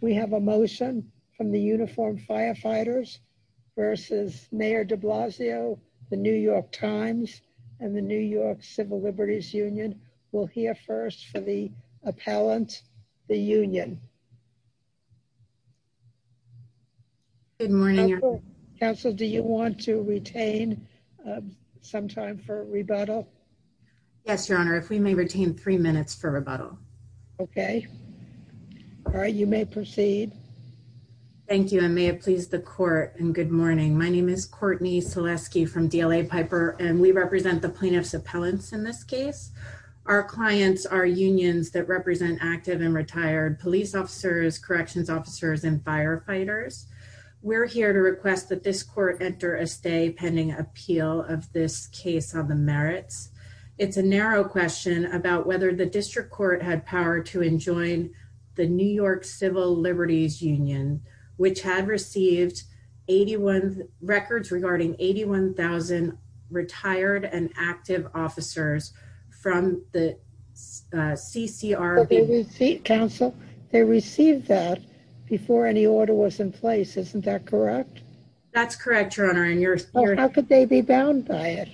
We have a motion from the Uniformed Firefighters versus Mayor DeBlasio, the New York Times, and the New York Civil Liberties Union. We'll hear first from the appellant, the union. Good morning. Council, do you want to retain some time for rebuttal? Yes, proceed. Thank you, and may it please the court, and good morning. My name is Courtney Selesky from DLA Piper, and we represent the plaintiff's appellants in this case. Our clients are unions that represent active and retired police officers, corrections officers, and firefighters. We're here to request that this court enter a stay pending appeal of this case on the merits. It's a narrow question about whether the district court had power to enjoin the New York Civil Liberties Union, which had received 81 records regarding 81,000 retired and active officers from the CCRB. Council, they received that before any order was in place. Isn't that correct? That's correct, Your Honor. How could they be bound by it?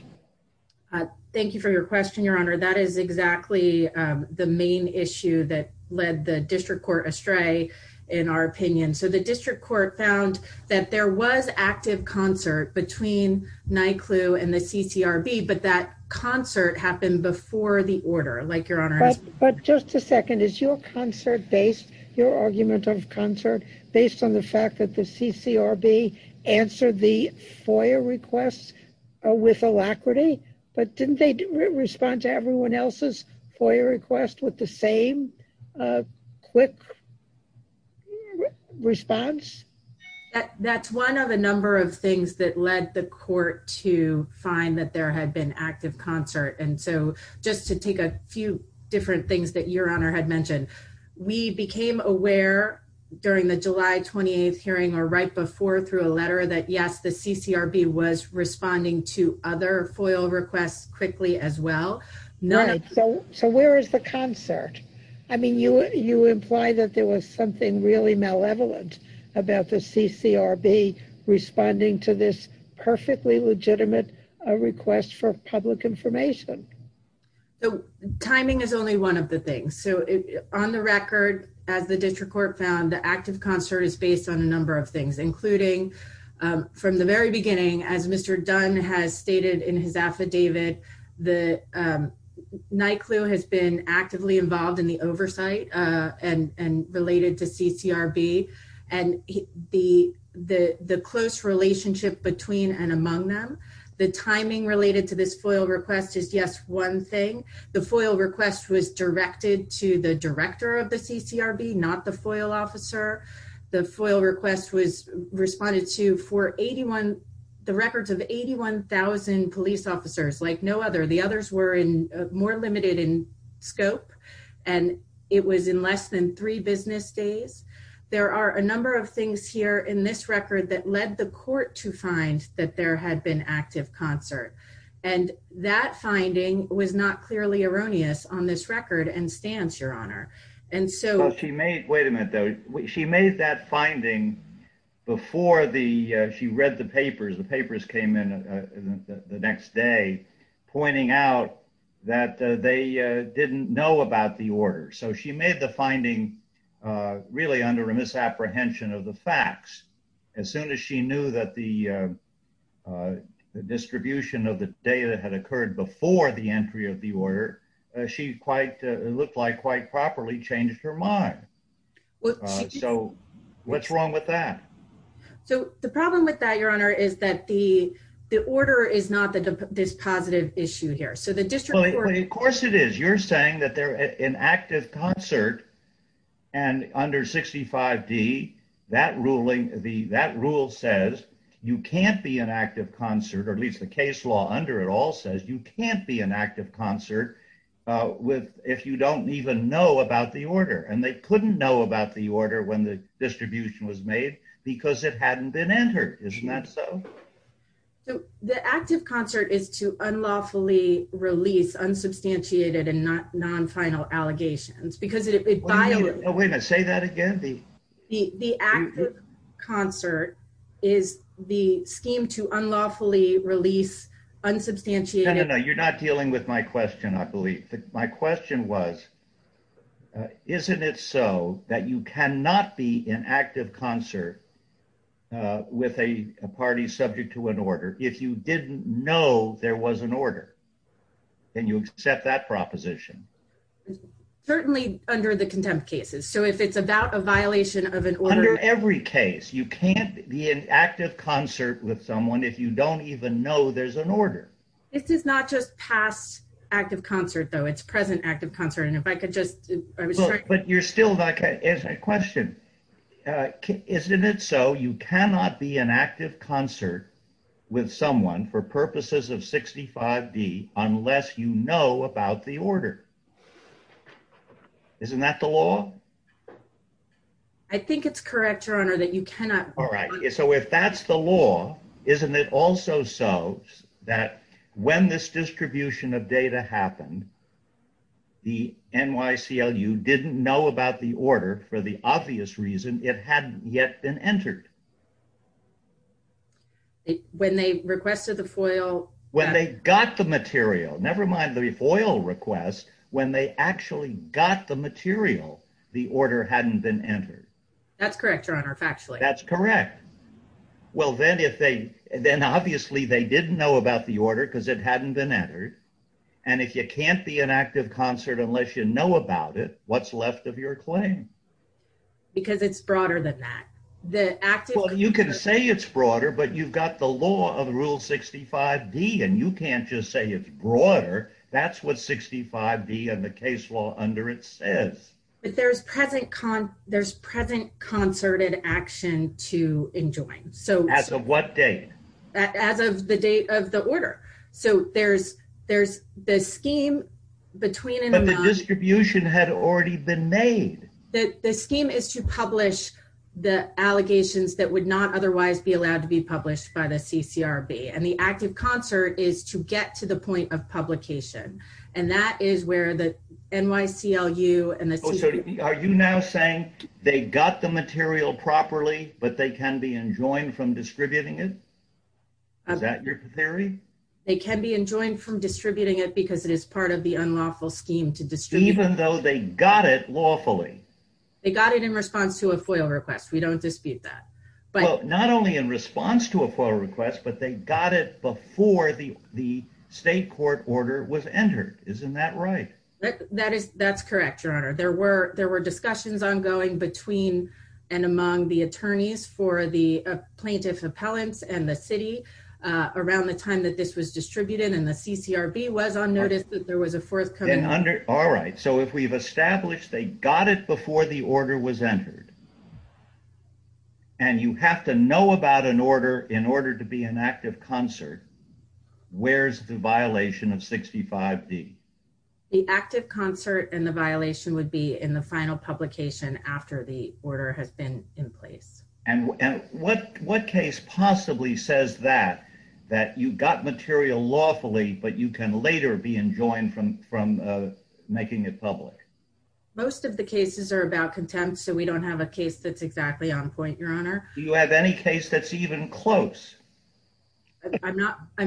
Thank you for your question, Your Honor. That is exactly the main issue that led the district court astray, in our opinion. So the district court found that there was active concert between NYCLU and the CCRB, but that concert happened before the order, like Your Honor asked. But just a second. Is your concert based, your argument of concert, based on the fact that the but didn't they respond to everyone else's FOIA request with the same quick response? That's one of a number of things that led the court to find that there had been active concert. And so just to take a few different things that Your Honor had mentioned, we became aware during the July 28th hearing or right before through a letter that yes, the CCRB was responding to other FOIA requests quickly as well. So where is the concert? I mean, you imply that there was something really malevolent about the CCRB responding to this perfectly legitimate request for public information. Timing is only one of the things. So on the record, as the district court found, the active concert is based on a number of things, including from the very beginning, as Mr. Dunn has stated in his affidavit, the NYCLU has been actively involved in the oversight and related to CCRB and the close relationship between and among them. The timing related to this FOIA request is, yes, one thing. The FOIA request was directed to the director of the CCRB, not the FOIA officer. The FOIA request was responded to for the records of 81,000 police officers, like no other. The others were more limited in scope, and it was in less than three business days. There are a number of things here in this record that led the court to find that there had been active concert. And that finding was not clearly erroneous on this record and your honor. And so she made, wait a minute though, she made that finding before the, she read the papers, the papers came in the next day pointing out that they didn't know about the order. So she made the finding really under a misapprehension of the facts. As soon as she knew that the distribution of the data had occurred before the entry of the order, she quite, it looked like quite properly changed her mind. So what's wrong with that? So the problem with that, your honor, is that the order is not this positive issue here. So the district court- Of course it is. You're saying that they're an active concert and under 65D, that ruling, that rule says you can't be an active concert, or at least the case law under it all says you can't be an active concert if you don't even know about the order. And they couldn't know about the order when the distribution was made because it hadn't been entered. Isn't that so? So the active concert is to unlawfully release unsubstantiated and non-final allegations because it violates- Oh, wait a minute. Say that again. The active concert is the scheme to unlawfully release unsubstantiated- No, no, no. You're not dealing with my question, I believe. My question was, isn't it so that you cannot be an active concert with a party subject to an order if you didn't know there was an order and you accept that proposition? Certainly under the contempt cases. So if it's about a violation of an order- Under every case, you can't be an active concert with someone if you don't even know there's an order. This is not just past active concert, though. It's present active concert. And if I could just- But you're still, like, it's a question. Isn't it so you cannot be an active concert with someone for purposes of 65D unless you know about the order? Isn't that the law? I think it's correct, Your Honor, that you cannot- So if that's the law, isn't it also so that when this distribution of data happened, the NYCLU didn't know about the order for the obvious reason it hadn't yet been entered? When they requested the FOIL- When they got the material, never mind the FOIL request, when they actually got the material, the order hadn't been entered. That's correct, Your Honor, factually. That's correct. Well, then, if they- Then, obviously, they didn't know about the order because it hadn't been entered. And if you can't be an active concert unless you know about it, what's left of your claim? Because it's broader than that. The active- Well, you can say it's broader, but you've got the law of Rule 65D, and you can't just say it's broader. That's what 65D and the case law under it says. But there's present concerted action to enjoin. So- As of what date? As of the date of the order. So there's the scheme between- But the distribution had already been made. The scheme is to publish the allegations that would not otherwise be allowed to be published by the CCRB. And the active concert is to get to the point of publication. And that is where the Are you now saying they got the material properly, but they can be enjoined from distributing it? Is that your theory? They can be enjoined from distributing it because it is part of the unlawful scheme to distribute- Even though they got it lawfully. They got it in response to a FOIA request. We don't dispute that. But- Well, not only in response to a FOIA request, but they got it before the state court order was entered. Isn't that right? That's correct, Your Honor. There were discussions ongoing between and among the attorneys for the plaintiff appellants and the city around the time that this was distributed. And the CCRB was on notice that there was a forthcoming- All right. So if we've established they got it before the order was entered, and you have to know about an order in order to be an active concert, where's the violation of 65D? The active concert and the violation would be in the final publication after the order has been in place. And what case possibly says that, that you got material lawfully, but you can later be enjoined from making it public? Most of the cases are about contempt. So we don't have a case that's exactly on point, Your Honor. Do you have any case that's even close? I'm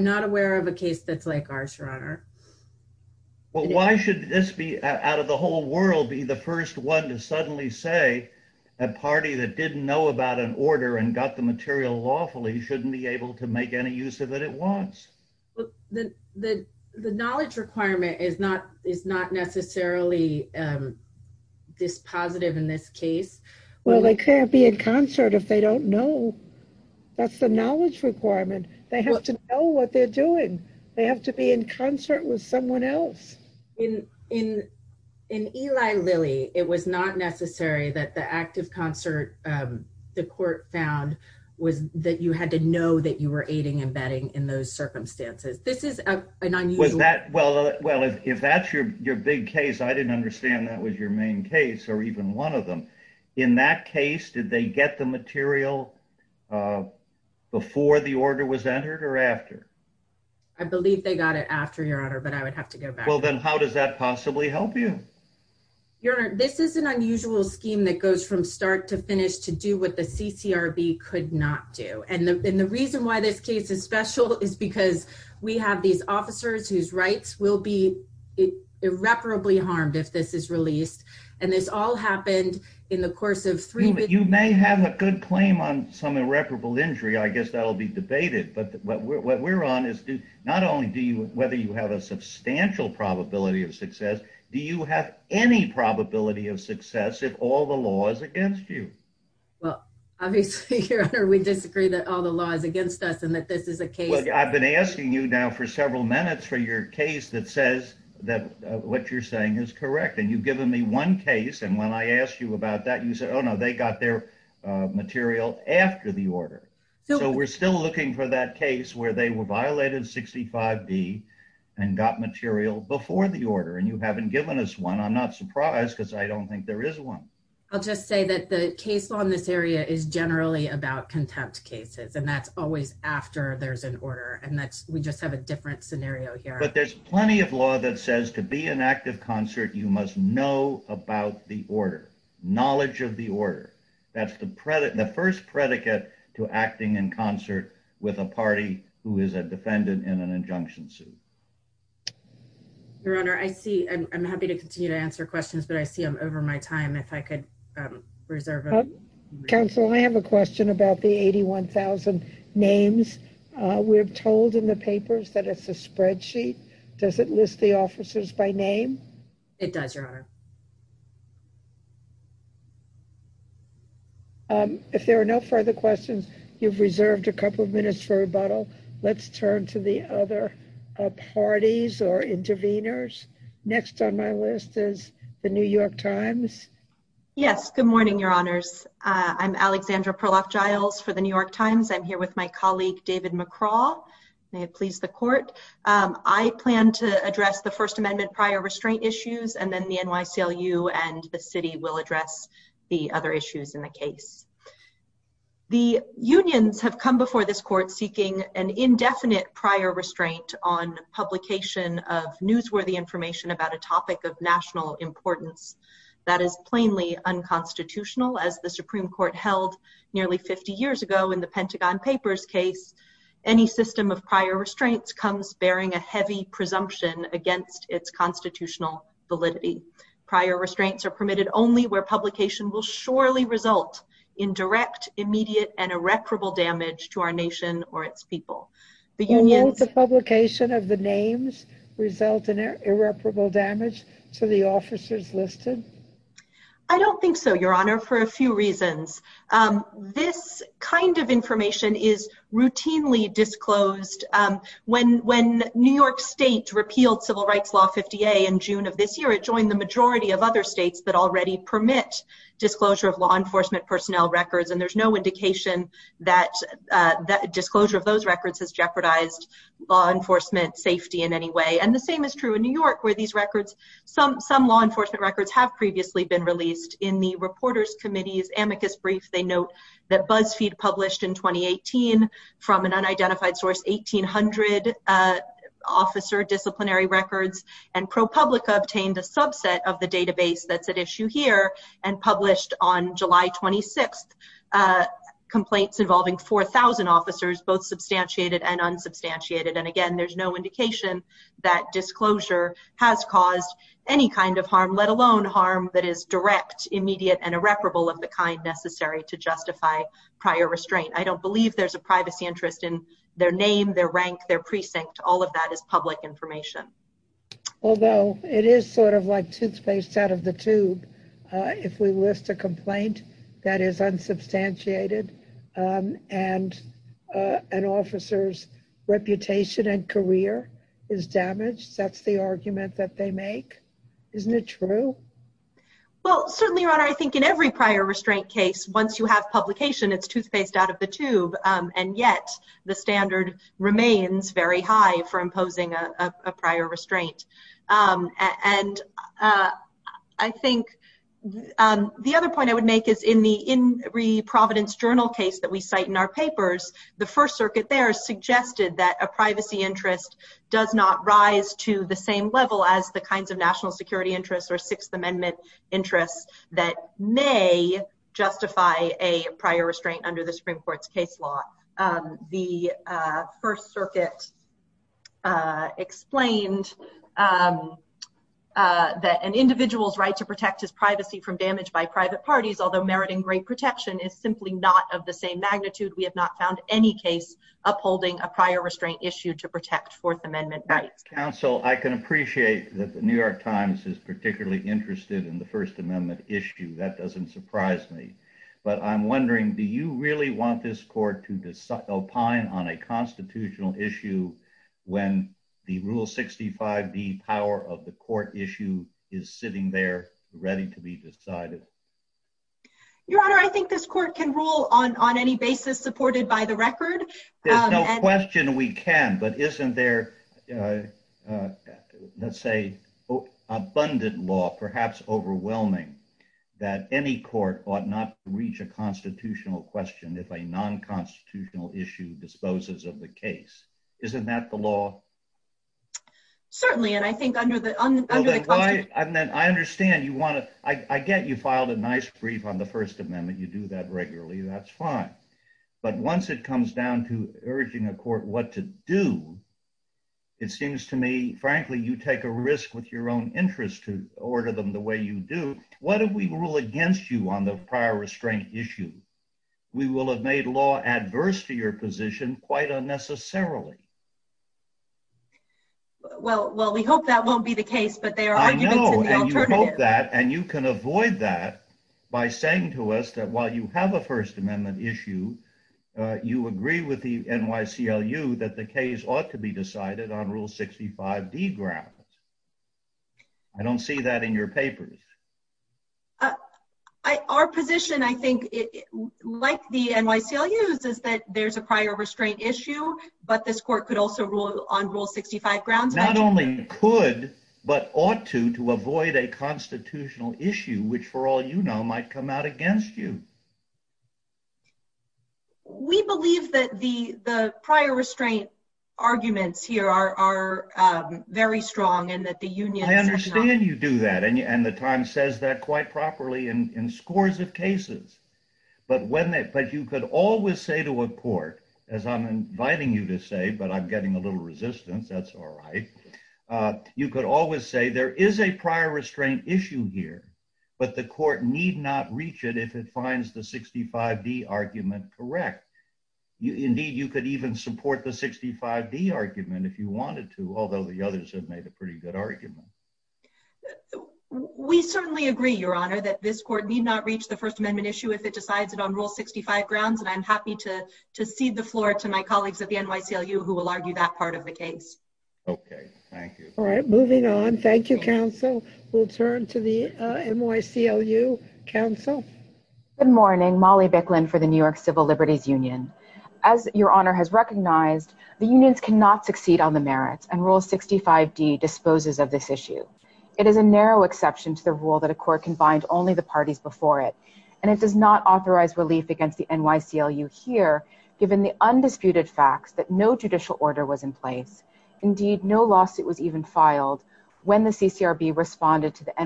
not aware of a case that's like ours, Your Honor. Well, why should this be, out of the whole world, be the first one to suddenly say a party that didn't know about an order and got the material lawfully shouldn't be able to make any use of it at once? The knowledge requirement is not necessarily this positive in this case. Well, they can't be in concert if they don't know. That's the knowledge requirement. They have to know what they're doing. They have to be in concert with someone else. In Eli Lilly, it was not necessary that the active concert, the court found, was that you had to know that you were aiding and abetting in those circumstances. This is an unusual... Well, if that's your big case, I didn't understand that was your main case or even one of them. In that case, did they get the material before the order was entered or after? I believe they got it after, Your Honor, but I would have to go back. How does that possibly help you? Your Honor, this is an unusual scheme that goes from start to finish to do what the CCRB could not do. The reason why this case is special is because we have these officers whose rights will be irreparably harmed if this is released. This all happened in the course of three... You may have a good claim on some irreparable injury. I guess that'll be debated. What we're on is not only whether you have a substantial probability of success, do you have any probability of success if all the law is against you? Obviously, Your Honor, we disagree that all the law is against us and that this is a case... I've been asking you now for several minutes for your case that says that what you're saying is correct. You've given me one case. When I asked you about that, you said, oh no, they got their material after the order. We're still looking for that case where they violated 65B and got material before the order and you haven't given us one. I'm not surprised because I don't think there is one. I'll just say that the case law in this area is generally about contempt cases and that's always after there's an order and we just have a different scenario here. But there's plenty of law that says to be in active concert, you must know about the order, knowledge of the order. That's the first predicate to acting in concert with a party who is a defendant in an injunction suit. Your Honor, I see... I'm happy to continue to answer questions, but I see I'm over my time. If I could reserve... Counsel, I have a question about the 81,000 names. We're told in the papers that it's a spreadsheet. Does it list the officers by name? It does, Your Honor. If there are no further questions, you've reserved a couple of minutes for rebuttal. Let's turn to the other parties or interveners. Next on my list is the New York Times. Yes. Good morning, Your Honors. I'm Alexandra Perloff-Giles for the New York Times. I'm here with my colleague, David McCraw. May it please the Court. I plan to address the First Amendment and the City will address the other issues in the case. The unions have come before this Court seeking an indefinite prior restraint on publication of newsworthy information about a topic of national importance that is plainly unconstitutional. As the Supreme Court held nearly 50 years ago in the Pentagon Papers case, any system of prior restraints are permitted only where publication will surely result in direct, immediate, and irreparable damage to our nation or its people. Although the publication of the names result in irreparable damage to the officers listed? I don't think so, Your Honor, for a few reasons. This kind of information is routinely disclosed. When New York State repealed Civil Law, the majority of other states that already permit disclosure of law enforcement personnel records, and there's no indication that disclosure of those records has jeopardized law enforcement safety in any way. The same is true in New York where some law enforcement records have previously been released. In the Reporters Committee's amicus brief, they note that BuzzFeed published in 2018 from an unidentified source 1,800 officer disciplinary records, and ProPublica obtained a subset of the database that's at issue here and published on July 26th complaints involving 4,000 officers, both substantiated and unsubstantiated. And again, there's no indication that disclosure has caused any kind of harm, let alone harm that is direct, immediate, and irreparable of the kind necessary to justify prior restraint. I don't believe there's a privacy interest in their name, their rank, their precinct. All of that is public information. Although it is sort of like toothpaste out of the tube if we list a complaint that is unsubstantiated and an officer's reputation and career is damaged. That's the argument that they make. Isn't it true? Well, certainly, Your Honor, I think in every prior restraint case, once you have publication, it's toothpaste out of the tube, and yet the standard remains very high for imposing a prior restraint. And I think the other point I would make is in the In Re Providence Journal case that we cite in our papers, the First Circuit there suggested that a privacy interest does not rise to the same level as the kinds of national security interests or Sixth Amendment interests that may justify a prior restraint under the Supreme Court's case law. The First Circuit explained that an individual's right to protect his privacy from damage by private parties, although meriting great protection, is simply not of the same magnitude. We have not found any case upholding a prior restraint issue to protect Fourth Amendment rights. Counsel, I can appreciate that the New York Times is particularly interested in the First Amendment issue. That doesn't surprise me. But I'm wondering, do you really want this court to opine on a constitutional issue when the Rule 65e power of the court issue is sitting there ready to be decided? Your Honor, I think this court can rule on any basis supported by the record. There's no question we can, but isn't there, you know, let's say, abundant law, perhaps overwhelming, that any court ought not to reach a constitutional question if a non-constitutional issue disposes of the case? Isn't that the law? Certainly, and I think under the, under the- And then I understand you want to, I get you filed a nice brief on the First Amendment, you do that regularly, that's fine. But once it comes down to urging a court what to do, it seems to me, frankly, you take a risk with your own interest to order them the way you do. What if we rule against you on the prior restraint issue? We will have made law adverse to your position quite unnecessarily. Well, well, we hope that won't be the case, but there are arguments in the alternative. I know, and you hope that, and you can avoid that by saying to us that while you have a First Amendment, you have a constitutional issue, which for all you know, might come out against you. We believe that the, the prior restraint arguments here are, are very strong and that the union- I understand you do that, and the Times says that quite properly in scores of cases. But when they, but you could always say to a court, as I'm inviting you to say, but I'm getting a little resistance, that's all right. You could always say there is a prior restraint, and that is the 65D argument correct. Indeed, you could even support the 65D argument if you wanted to, although the others have made a pretty good argument. We certainly agree, Your Honor, that this court need not reach the First Amendment issue if it decides it on Rule 65 grounds, and I'm happy to, to cede the floor to my colleagues at the NYCLU who will argue that part of the case. Okay, thank you. All right, moving on. Thank you, counsel. We'll turn to the NYCLU counsel. Good morning, Molly Bicklin for the New York Civil Liberties Union. As Your Honor has recognized, the unions cannot succeed on the merits, and Rule 65D disposes of this issue. It is a narrow exception to the rule that a court can bind only the parties before it, and it does not authorize relief against the NYCLU here, given the undisputed facts that no judicial to the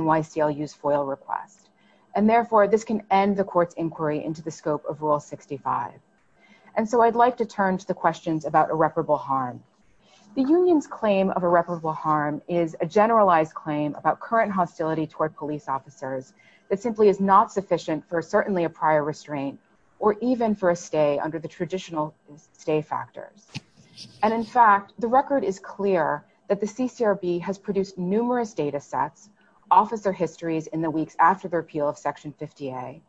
NYCLU's FOIL request, and therefore this can end the court's inquiry into the scope of Rule 65. And so I'd like to turn to the questions about irreparable harm. The union's claim of irreparable harm is a generalized claim about current hostility toward police officers that simply is not sufficient for certainly a prior restraint or even for a stay under the traditional stay factors. And in fact, the record is clear that the CCRB has produced numerous data sets, officer histories in the weeks after the repeal of Section 50A.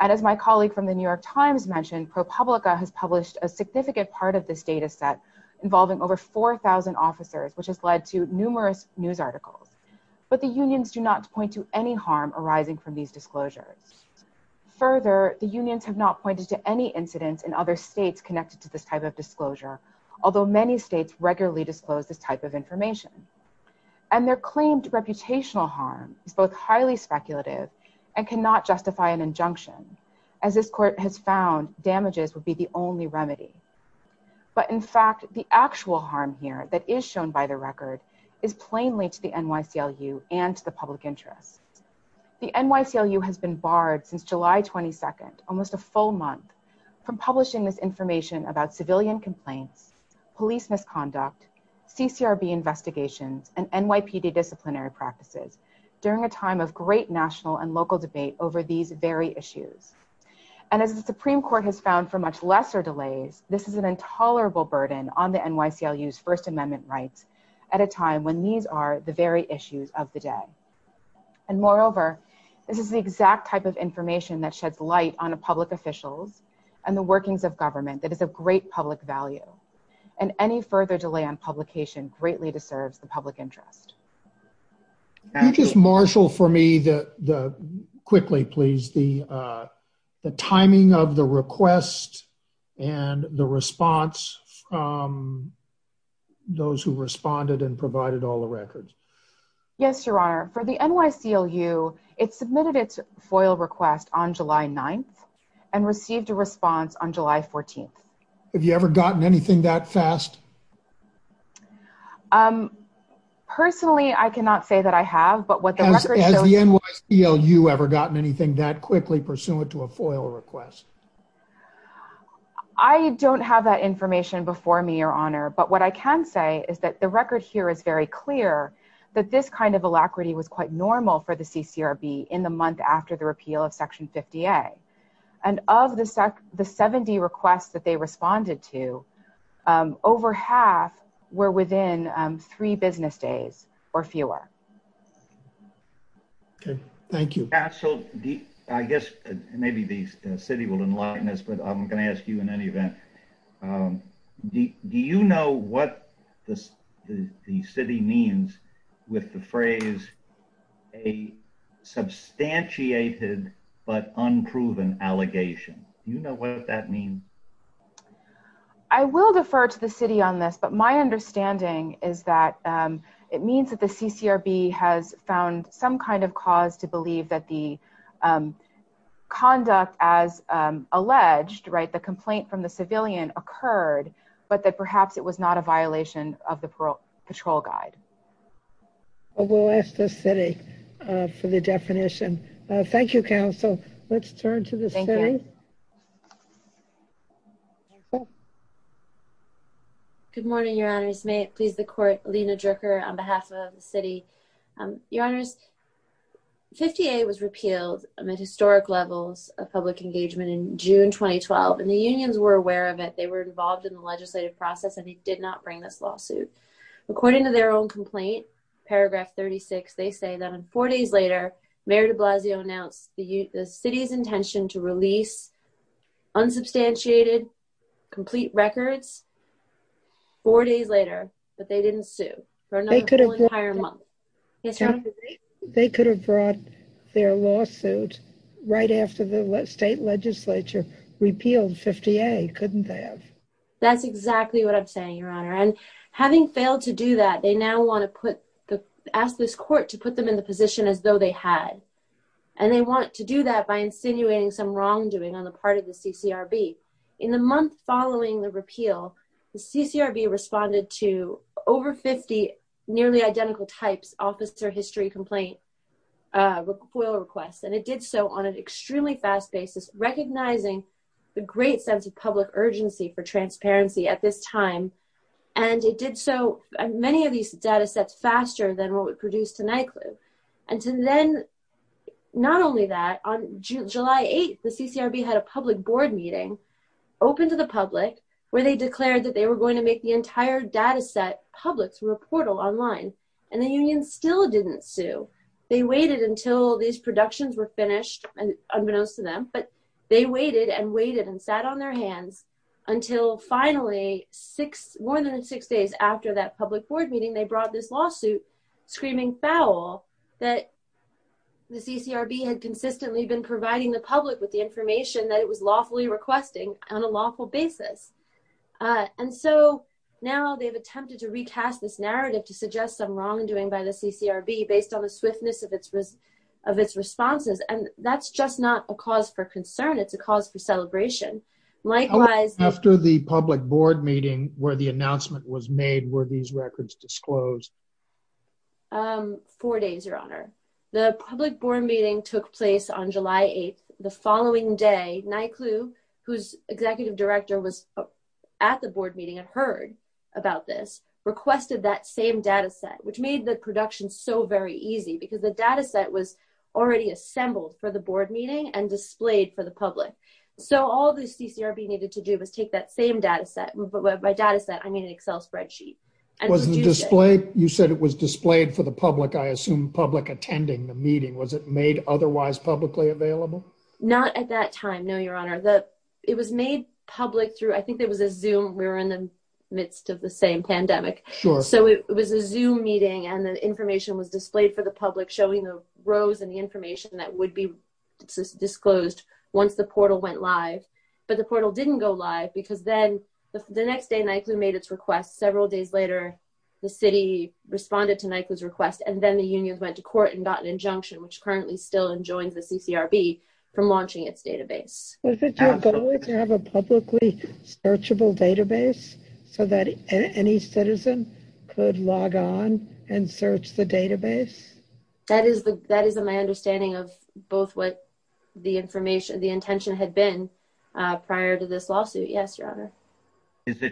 And as my colleague from the New York Times mentioned, ProPublica has published a significant part of this data set involving over 4,000 officers, which has led to numerous news articles. But the unions do not point to any harm arising from these disclosures. Further, the unions have not pointed to any incidents in other states connected to this type of disclosure, although many states regularly disclose this type of information. And their claimed reputational harm is both highly speculative and cannot justify an injunction. As this court has found, damages would be the only remedy. But in fact, the actual harm here that is shown by the record is plainly to the NYCLU and to the public interest. The NYCLU has been barred since July 22nd, almost a full month, from publishing this information about civilian complaints, police misconduct, CCRB investigations, and NYPD disciplinary practices during a time of great national and local debate over these very issues. And as the Supreme Court has found for much lesser delays, this is an intolerable burden on the NYCLU's First Amendment rights at a time when these are the very issues of the day. And moreover, this is the exact type of information that sheds light on public officials and the workings of government that is of great public value. And any further delay on publication greatly deserves the public interest. Can you just marshal for me the, quickly please, the timing of the request and the response from those who responded and provided all the records? Yes, Your Honor. For the NYCLU, it submitted its FOIL request on July 9th and received a response on July 14th. Have you ever gotten anything that fast? Personally, I cannot say that I have, but what the record shows... Has the NYCLU ever gotten anything that quickly pursuant to a FOIL request? I don't have that information before me, Your Honor. But what I can say is that the record here is very clear that this kind of alacrity was quite normal for the CCRB in the month after the were within three business days or fewer. Okay. Thank you. I guess maybe the city will enlighten us, but I'm going to ask you in any event. Do you know what the city means with the phrase, a substantiated but unproven allegation? Do you know what that means? I will defer to the city on this, but my understanding is that it means that the CCRB has found some kind of cause to believe that the conduct as alleged, right, the complaint from the civilian occurred, but that perhaps it was not a violation of the patrol guide. We'll ask the city for the definition. Thank you, counsel. Let's turn to the city. Okay. Good morning, Your Honors. May it please the court, Lena Drucker on behalf of the city. Your Honors, 58 was repealed amid historic levels of public engagement in June 2012, and the unions were aware of it. They were involved in the legislative process, and they did not bring this lawsuit. According to their own complaint, paragraph 36, they say that four days later, Mayor de Blasio announced the city's intention to release unsubstantiated, complete records, four days later, but they didn't sue for an entire month. They could have brought their lawsuit right after the state legislature repealed 58, couldn't they have? That's exactly what I'm saying, Your Honor, and having failed to do that, they now want to ask this court to put them in the position as though they had, and they want to do that by insinuating some wrongdoing on the part of the CCRB. In the month following the repeal, the CCRB responded to over 50 nearly identical types officer history complaint FOIA requests, and it did so on an extremely fast basis, recognizing the great sense of public urgency for transparency at this time, and it did so, many of these data sets faster than what produced to NYCLU, and to then, not only that, on July 8th, the CCRB had a public board meeting open to the public, where they declared that they were going to make the entire data set public through a portal online, and the union still didn't sue. They waited until these productions were finished, and unbeknownst to them, but they waited and waited and sat on their hands until finally six, more than six days after that public board meeting, they brought this lawsuit screaming foul that the CCRB had consistently been providing the public with the information that it was lawfully requesting on a lawful basis, and so now they've attempted to recast this narrative to suggest some wrongdoing by the CCRB based on the swiftness of its of its responses, and that's just not a cause for concern. It's a cause for celebration. Likewise, after the public board meeting where the announcement was made were these records disclosed? Four days, your honor. The public board meeting took place on July 8th. The following day, NYCLU, whose executive director was at the board meeting and heard about this, requested that same data set, which made the production so very easy because the data set was already assembled for the board meeting and displayed for the public, so all the CCRB needed to do was take that same data set. By data set, I mean an Excel spreadsheet. Was it displayed? You said it was displayed for the public, I assume public attending the meeting. Was it made otherwise publicly available? Not at that time, no, your honor. It was made public through, I think there was a Zoom, we were in the midst of the same pandemic, so it was a Zoom meeting and the information was displayed for the public showing the rows and the information that would be disclosed once the the next day, NYCLU made its request. Several days later, the city responded to NYCLU's request and then the unions went to court and got an injunction, which currently still enjoins the CCRB from launching its database. Was it your goal to have a publicly searchable database so that any citizen could log on and search the database? That is my understanding of both what the intention had been prior to this lawsuit, yes, your honor. Is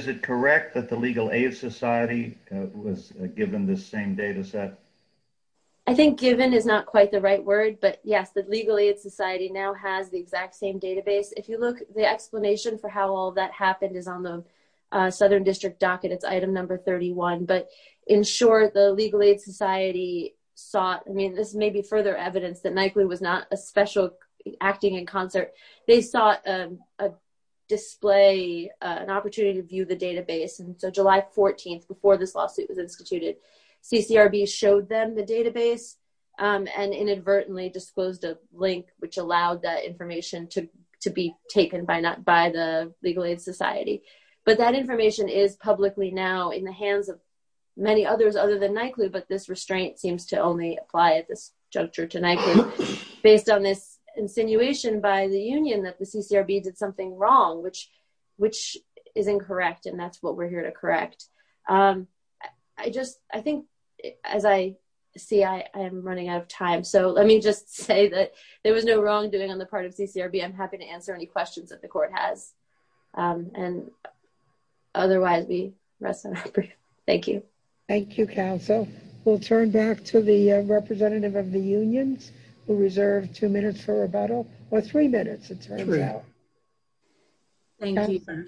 it correct that the Legal Aid Society was given this same data set? I think given is not quite the right word, but yes, the Legal Aid Society now has the exact same database. If you look, the explanation for how all that happened is on the southern district docket. It's item number 31, but in short, the acting and concert, they saw an opportunity to view the database, and so July 14th, before this lawsuit was instituted, CCRB showed them the database and inadvertently disclosed a link which allowed that information to be taken by the Legal Aid Society, but that information is publicly now in the hands of many others other than NYCLU, but this restraint seems to only apply at this juncture tonight based on this insinuation by the union that the CCRB did something wrong, which is incorrect, and that's what we're here to correct. I think, as I see, I am running out of time, so let me just say that there was no wrongdoing on the part of CCRB. I'm happy to answer any questions that the court has, and otherwise, we rest on our breath. Thank you. Thank you, counsel. We'll turn back to the representative of the unions who reserved two minutes for rebuttal, or three minutes, it turns out. Thank you, sir.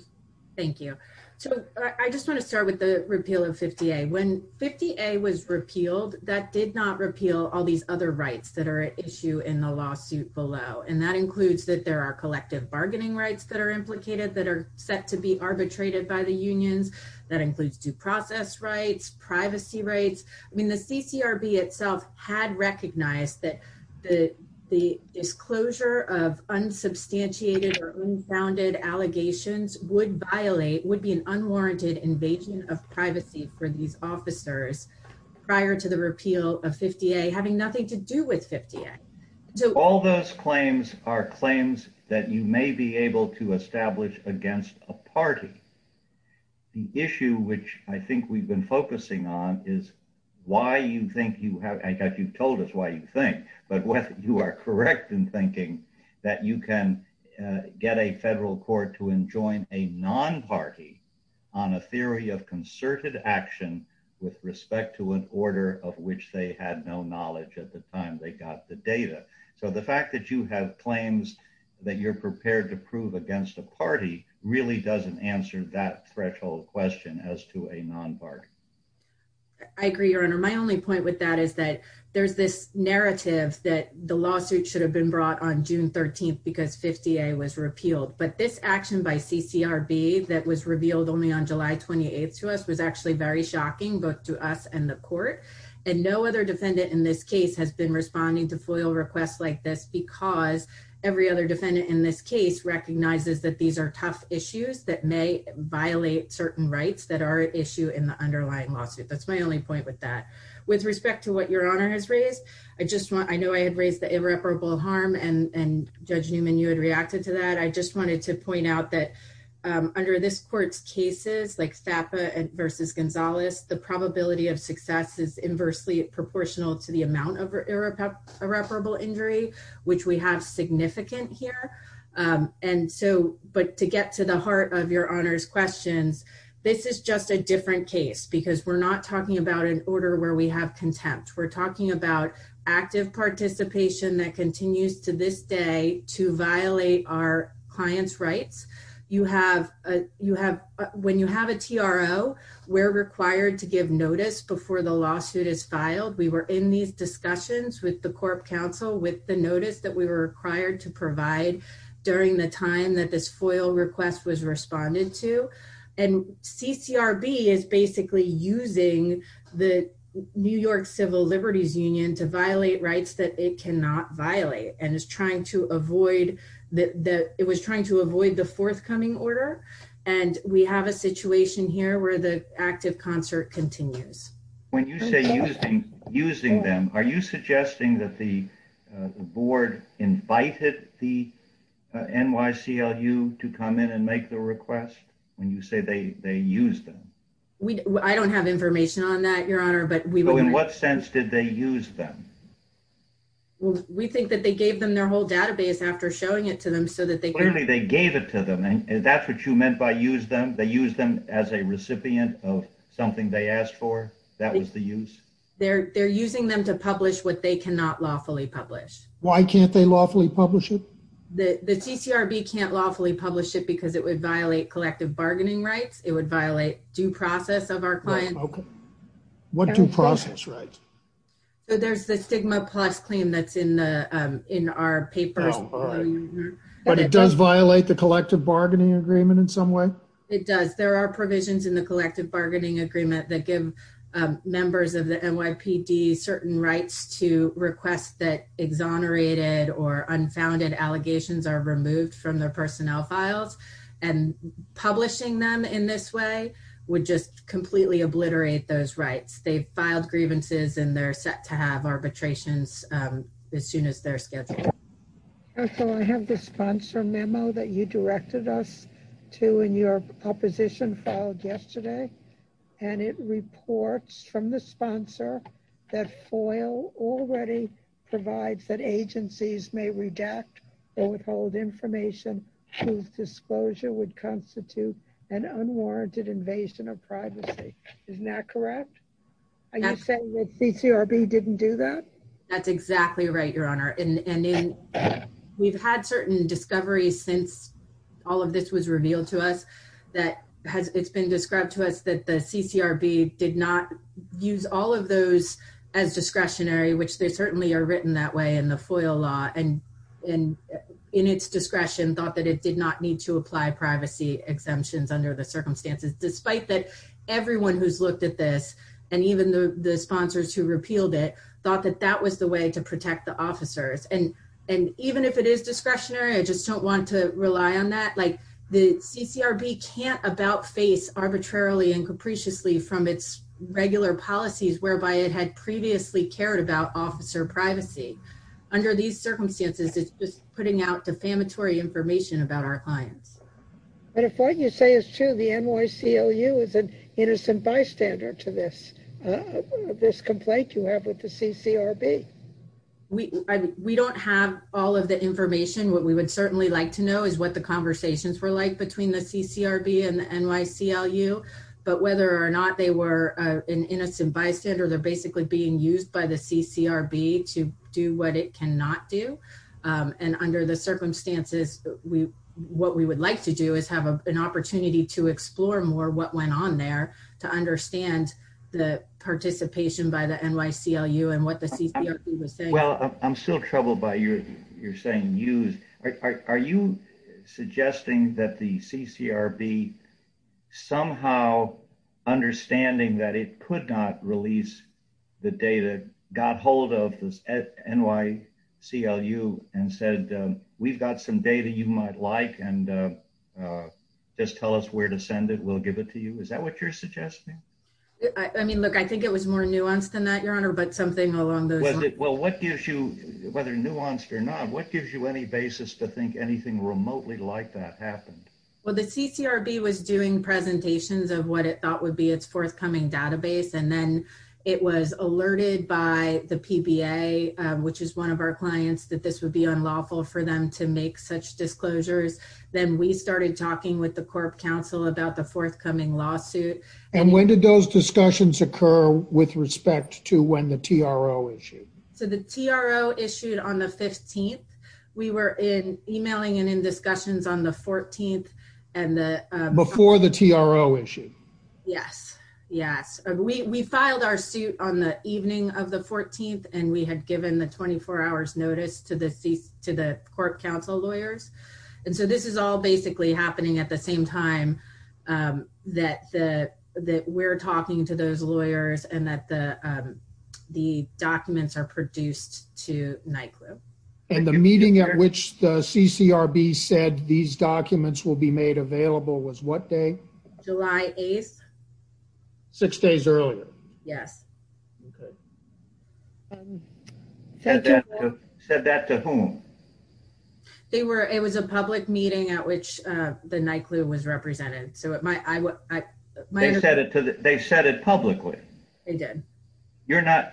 Thank you. So I just want to start with the repeal of 50A. When 50A was repealed, that did not repeal all these other rights that are at issue in the lawsuit below, and that includes that there are collective bargaining rights that are implicated that are set to be arbitrated by the unions. That includes due process rights, privacy rights. I mean, the CCRB itself had recognized that the disclosure of unsubstantiated or unfounded allegations would violate, would be an unwarranted invasion of privacy for these officers prior to the repeal of 50A, having nothing to do with 50A. So all those claims are claims that you may be able to establish against a party. The issue which I think we've been focusing on is why you think you have, I guess you've told us why you think, but whether you are correct in thinking that you can get a federal court to enjoin a non-party on a theory of concerted action with respect to an order of which they had no knowledge at the time they got the data. So the fact that you have claims that you're prepared to prove against a party really doesn't answer that threshold question as to a non-party. I agree, your honor. My only point with that is that there's this narrative that the lawsuit should have been brought on June 13th because 50A was repealed, but this action by CCRB that was revealed only on July 28th to us was actually very shocking both to us and the court, and no other defendant in this case has been responding to FOIL requests like this because every other defendant in this case recognizes that these are tough issues that may violate certain rights that are an issue in the underlying lawsuit. That's my only point with that. With respect to what your honor has raised, I know I had raised the irreparable harm and Judge Newman, you had reacted to that. I just wanted to point out that under this court's cases like FAPA versus Gonzalez, the probability of success is inversely proportional to the amount of irreparable injury, which we have significant here. But to get to the heart of your honor's questions, this is just a different case because we're not talking about an order where we have contempt. We're talking about active participation that continues to this day to violate our client's rights. When you have a TRO, we're required to give notice before the lawsuit is with the Corp Council with the notice that we were required to provide during the time that this FOIL request was responded to. And CCRB is basically using the New York Civil Liberties Union to violate rights that it cannot violate, and it was trying to avoid the forthcoming order. And we have a situation here where the active concert continues. When you say using them, are you suggesting that the board invited the NYCLU to come in and make the request when you say they used them? I don't have information on that, your honor. But in what sense did they use them? Well, we think that they gave them their whole database after showing it to them so that they Clearly they gave it to them, and that's what you meant by use them. They used them as a recipient of something they asked for. That was the use. They're using them to publish what they cannot lawfully publish. Why can't they lawfully publish it? The CCRB can't lawfully publish it because it would violate collective bargaining rights. It would violate due process of our clients. What due process rights? So there's the stigma plus claim that's in our papers. But it does violate the collective bargaining agreement in some way? It does. There are provisions in the collective bargaining agreement that give members of the NYPD certain rights to request that exonerated or unfounded allegations are removed from their personnel files and publishing them in this way would just completely obliterate those rights. They filed grievances and they're set to have arbitrations as soon as they're scheduled. Counsel, I have the sponsor memo that you directed us to in your proposition filed yesterday. And it reports from the sponsor that FOIL already provides that agencies may redact or withhold information whose disclosure would constitute an unwarranted invasion of privacy. Isn't that correct? Are you saying that CCRB didn't do that? That's exactly right, Your Honor. And we've had certain discoveries since all of this was revealed to us that it's been described to us that the CCRB did not use all of those as discretionary, which they certainly are written that way in the FOIL law and in its discretion thought that it did not need to apply privacy exemptions under the circumstances, despite that everyone who's looked at this and even the sponsors who repealed it thought that was the way to protect the officers. And even if it is discretionary, I just don't want to rely on that. Like the CCRB can't about face arbitrarily and capriciously from its regular policies whereby it had previously cared about officer privacy. Under these circumstances, it's just putting out defamatory information about our clients. But if what you say is true, the NYCLU is an have with the CCRB? We don't have all of the information. What we would certainly like to know is what the conversations were like between the CCRB and the NYCLU, but whether or not they were an innocent bystander, they're basically being used by the CCRB to do what it cannot do. And under the circumstances, what we would like to do is have an opportunity to explore more what on there to understand the participation by the NYCLU and what the CCRB was saying. Well, I'm still troubled by your saying used. Are you suggesting that the CCRB somehow understanding that it could not release the data, got hold of the NYCLU and said, we've got some data you might like and just tell us where to send it. We'll give it to you. Is that what you're suggesting? I mean, look, I think it was more nuanced than that, your honor, but something along those lines. Well, what gives you, whether nuanced or not, what gives you any basis to think anything remotely like that happened? Well, the CCRB was doing presentations of what it thought would be its forthcoming database. And then it was alerted by the PBA, which is one of our clients, that this would be unlawful for them to make such disclosures. Then we started talking with the Corp Council about the forthcoming lawsuit. And when did those discussions occur with respect to when the TRO issued? So the TRO issued on the 15th. We were in emailing and in discussions on the 14th. And before the TRO issue? Yes. Yes. We filed our suit on the evening of the 14th, and we had given the 24 hours notice to the Court Council lawyers. And so this is all basically happening at the same time that we're talking to those lawyers and that the documents are produced to NICLU. And the meeting at which the CCRB said these documents will be made available was what July 8th? Six days earlier. Yes. Said that to whom? It was a public meeting at which the NICLU was represented. They said it publicly? They did.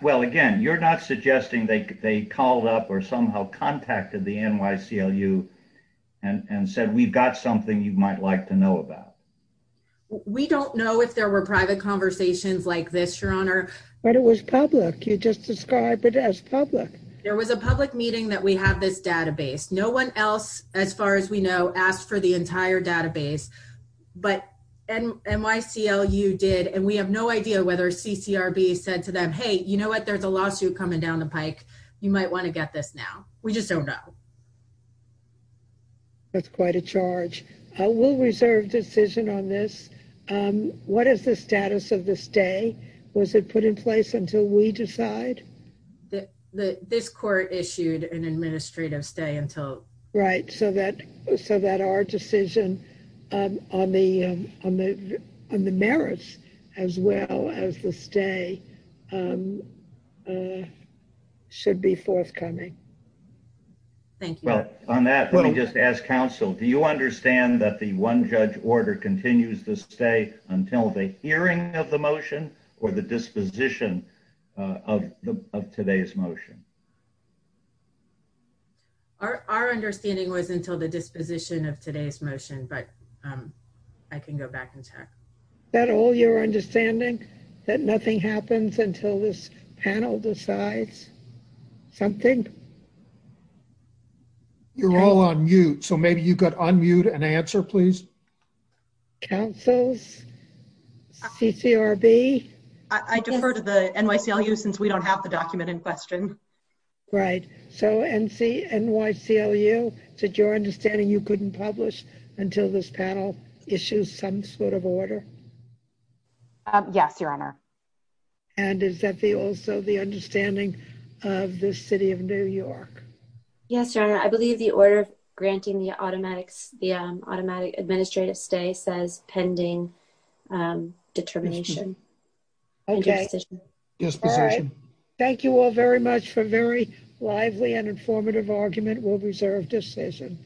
Well, again, you're not suggesting they called up or somehow contacted the NYCLU and said, we've got something you might like to know about. We don't know if there were private conversations like this, Your Honor. But it was public. You just described it as public. There was a public meeting that we have this database. No one else, as far as we know, asked for the entire database. But NYCLU did. And we have no idea whether CCRB said to them, hey, you know what? There's a lawsuit coming down the pike. You might want to get this now. We just don't know. That's quite a charge. We'll reserve decision on this. What is the status of the stay? Was it put in place until we decide? This court issued an administrative stay until... Right. So that our decision on the merits as well as the stay should be forthcoming. Thank you. Well, on that, let me just ask counsel, do you understand that the one-judge order continues to stay until the hearing of the motion or the disposition of today's motion? Our understanding was until the disposition of today's motion, but I can go back and check. Is that all your understanding? That nothing happens until this panel decides something? No. You're all on mute. So maybe you could unmute and answer, please. Councils? CCRB? I defer to the NYCLU since we don't have the document in question. Right. So NYCLU, is it your understanding you couldn't publish until this panel issues some sort of order? Yes, Your Honor. And is that also the understanding of the City of New York? Yes, Your Honor. I believe the order granting the automatic administrative stay says pending determination. Okay. All right. Thank you all very much for very lively and informative argument. We'll reserve decision.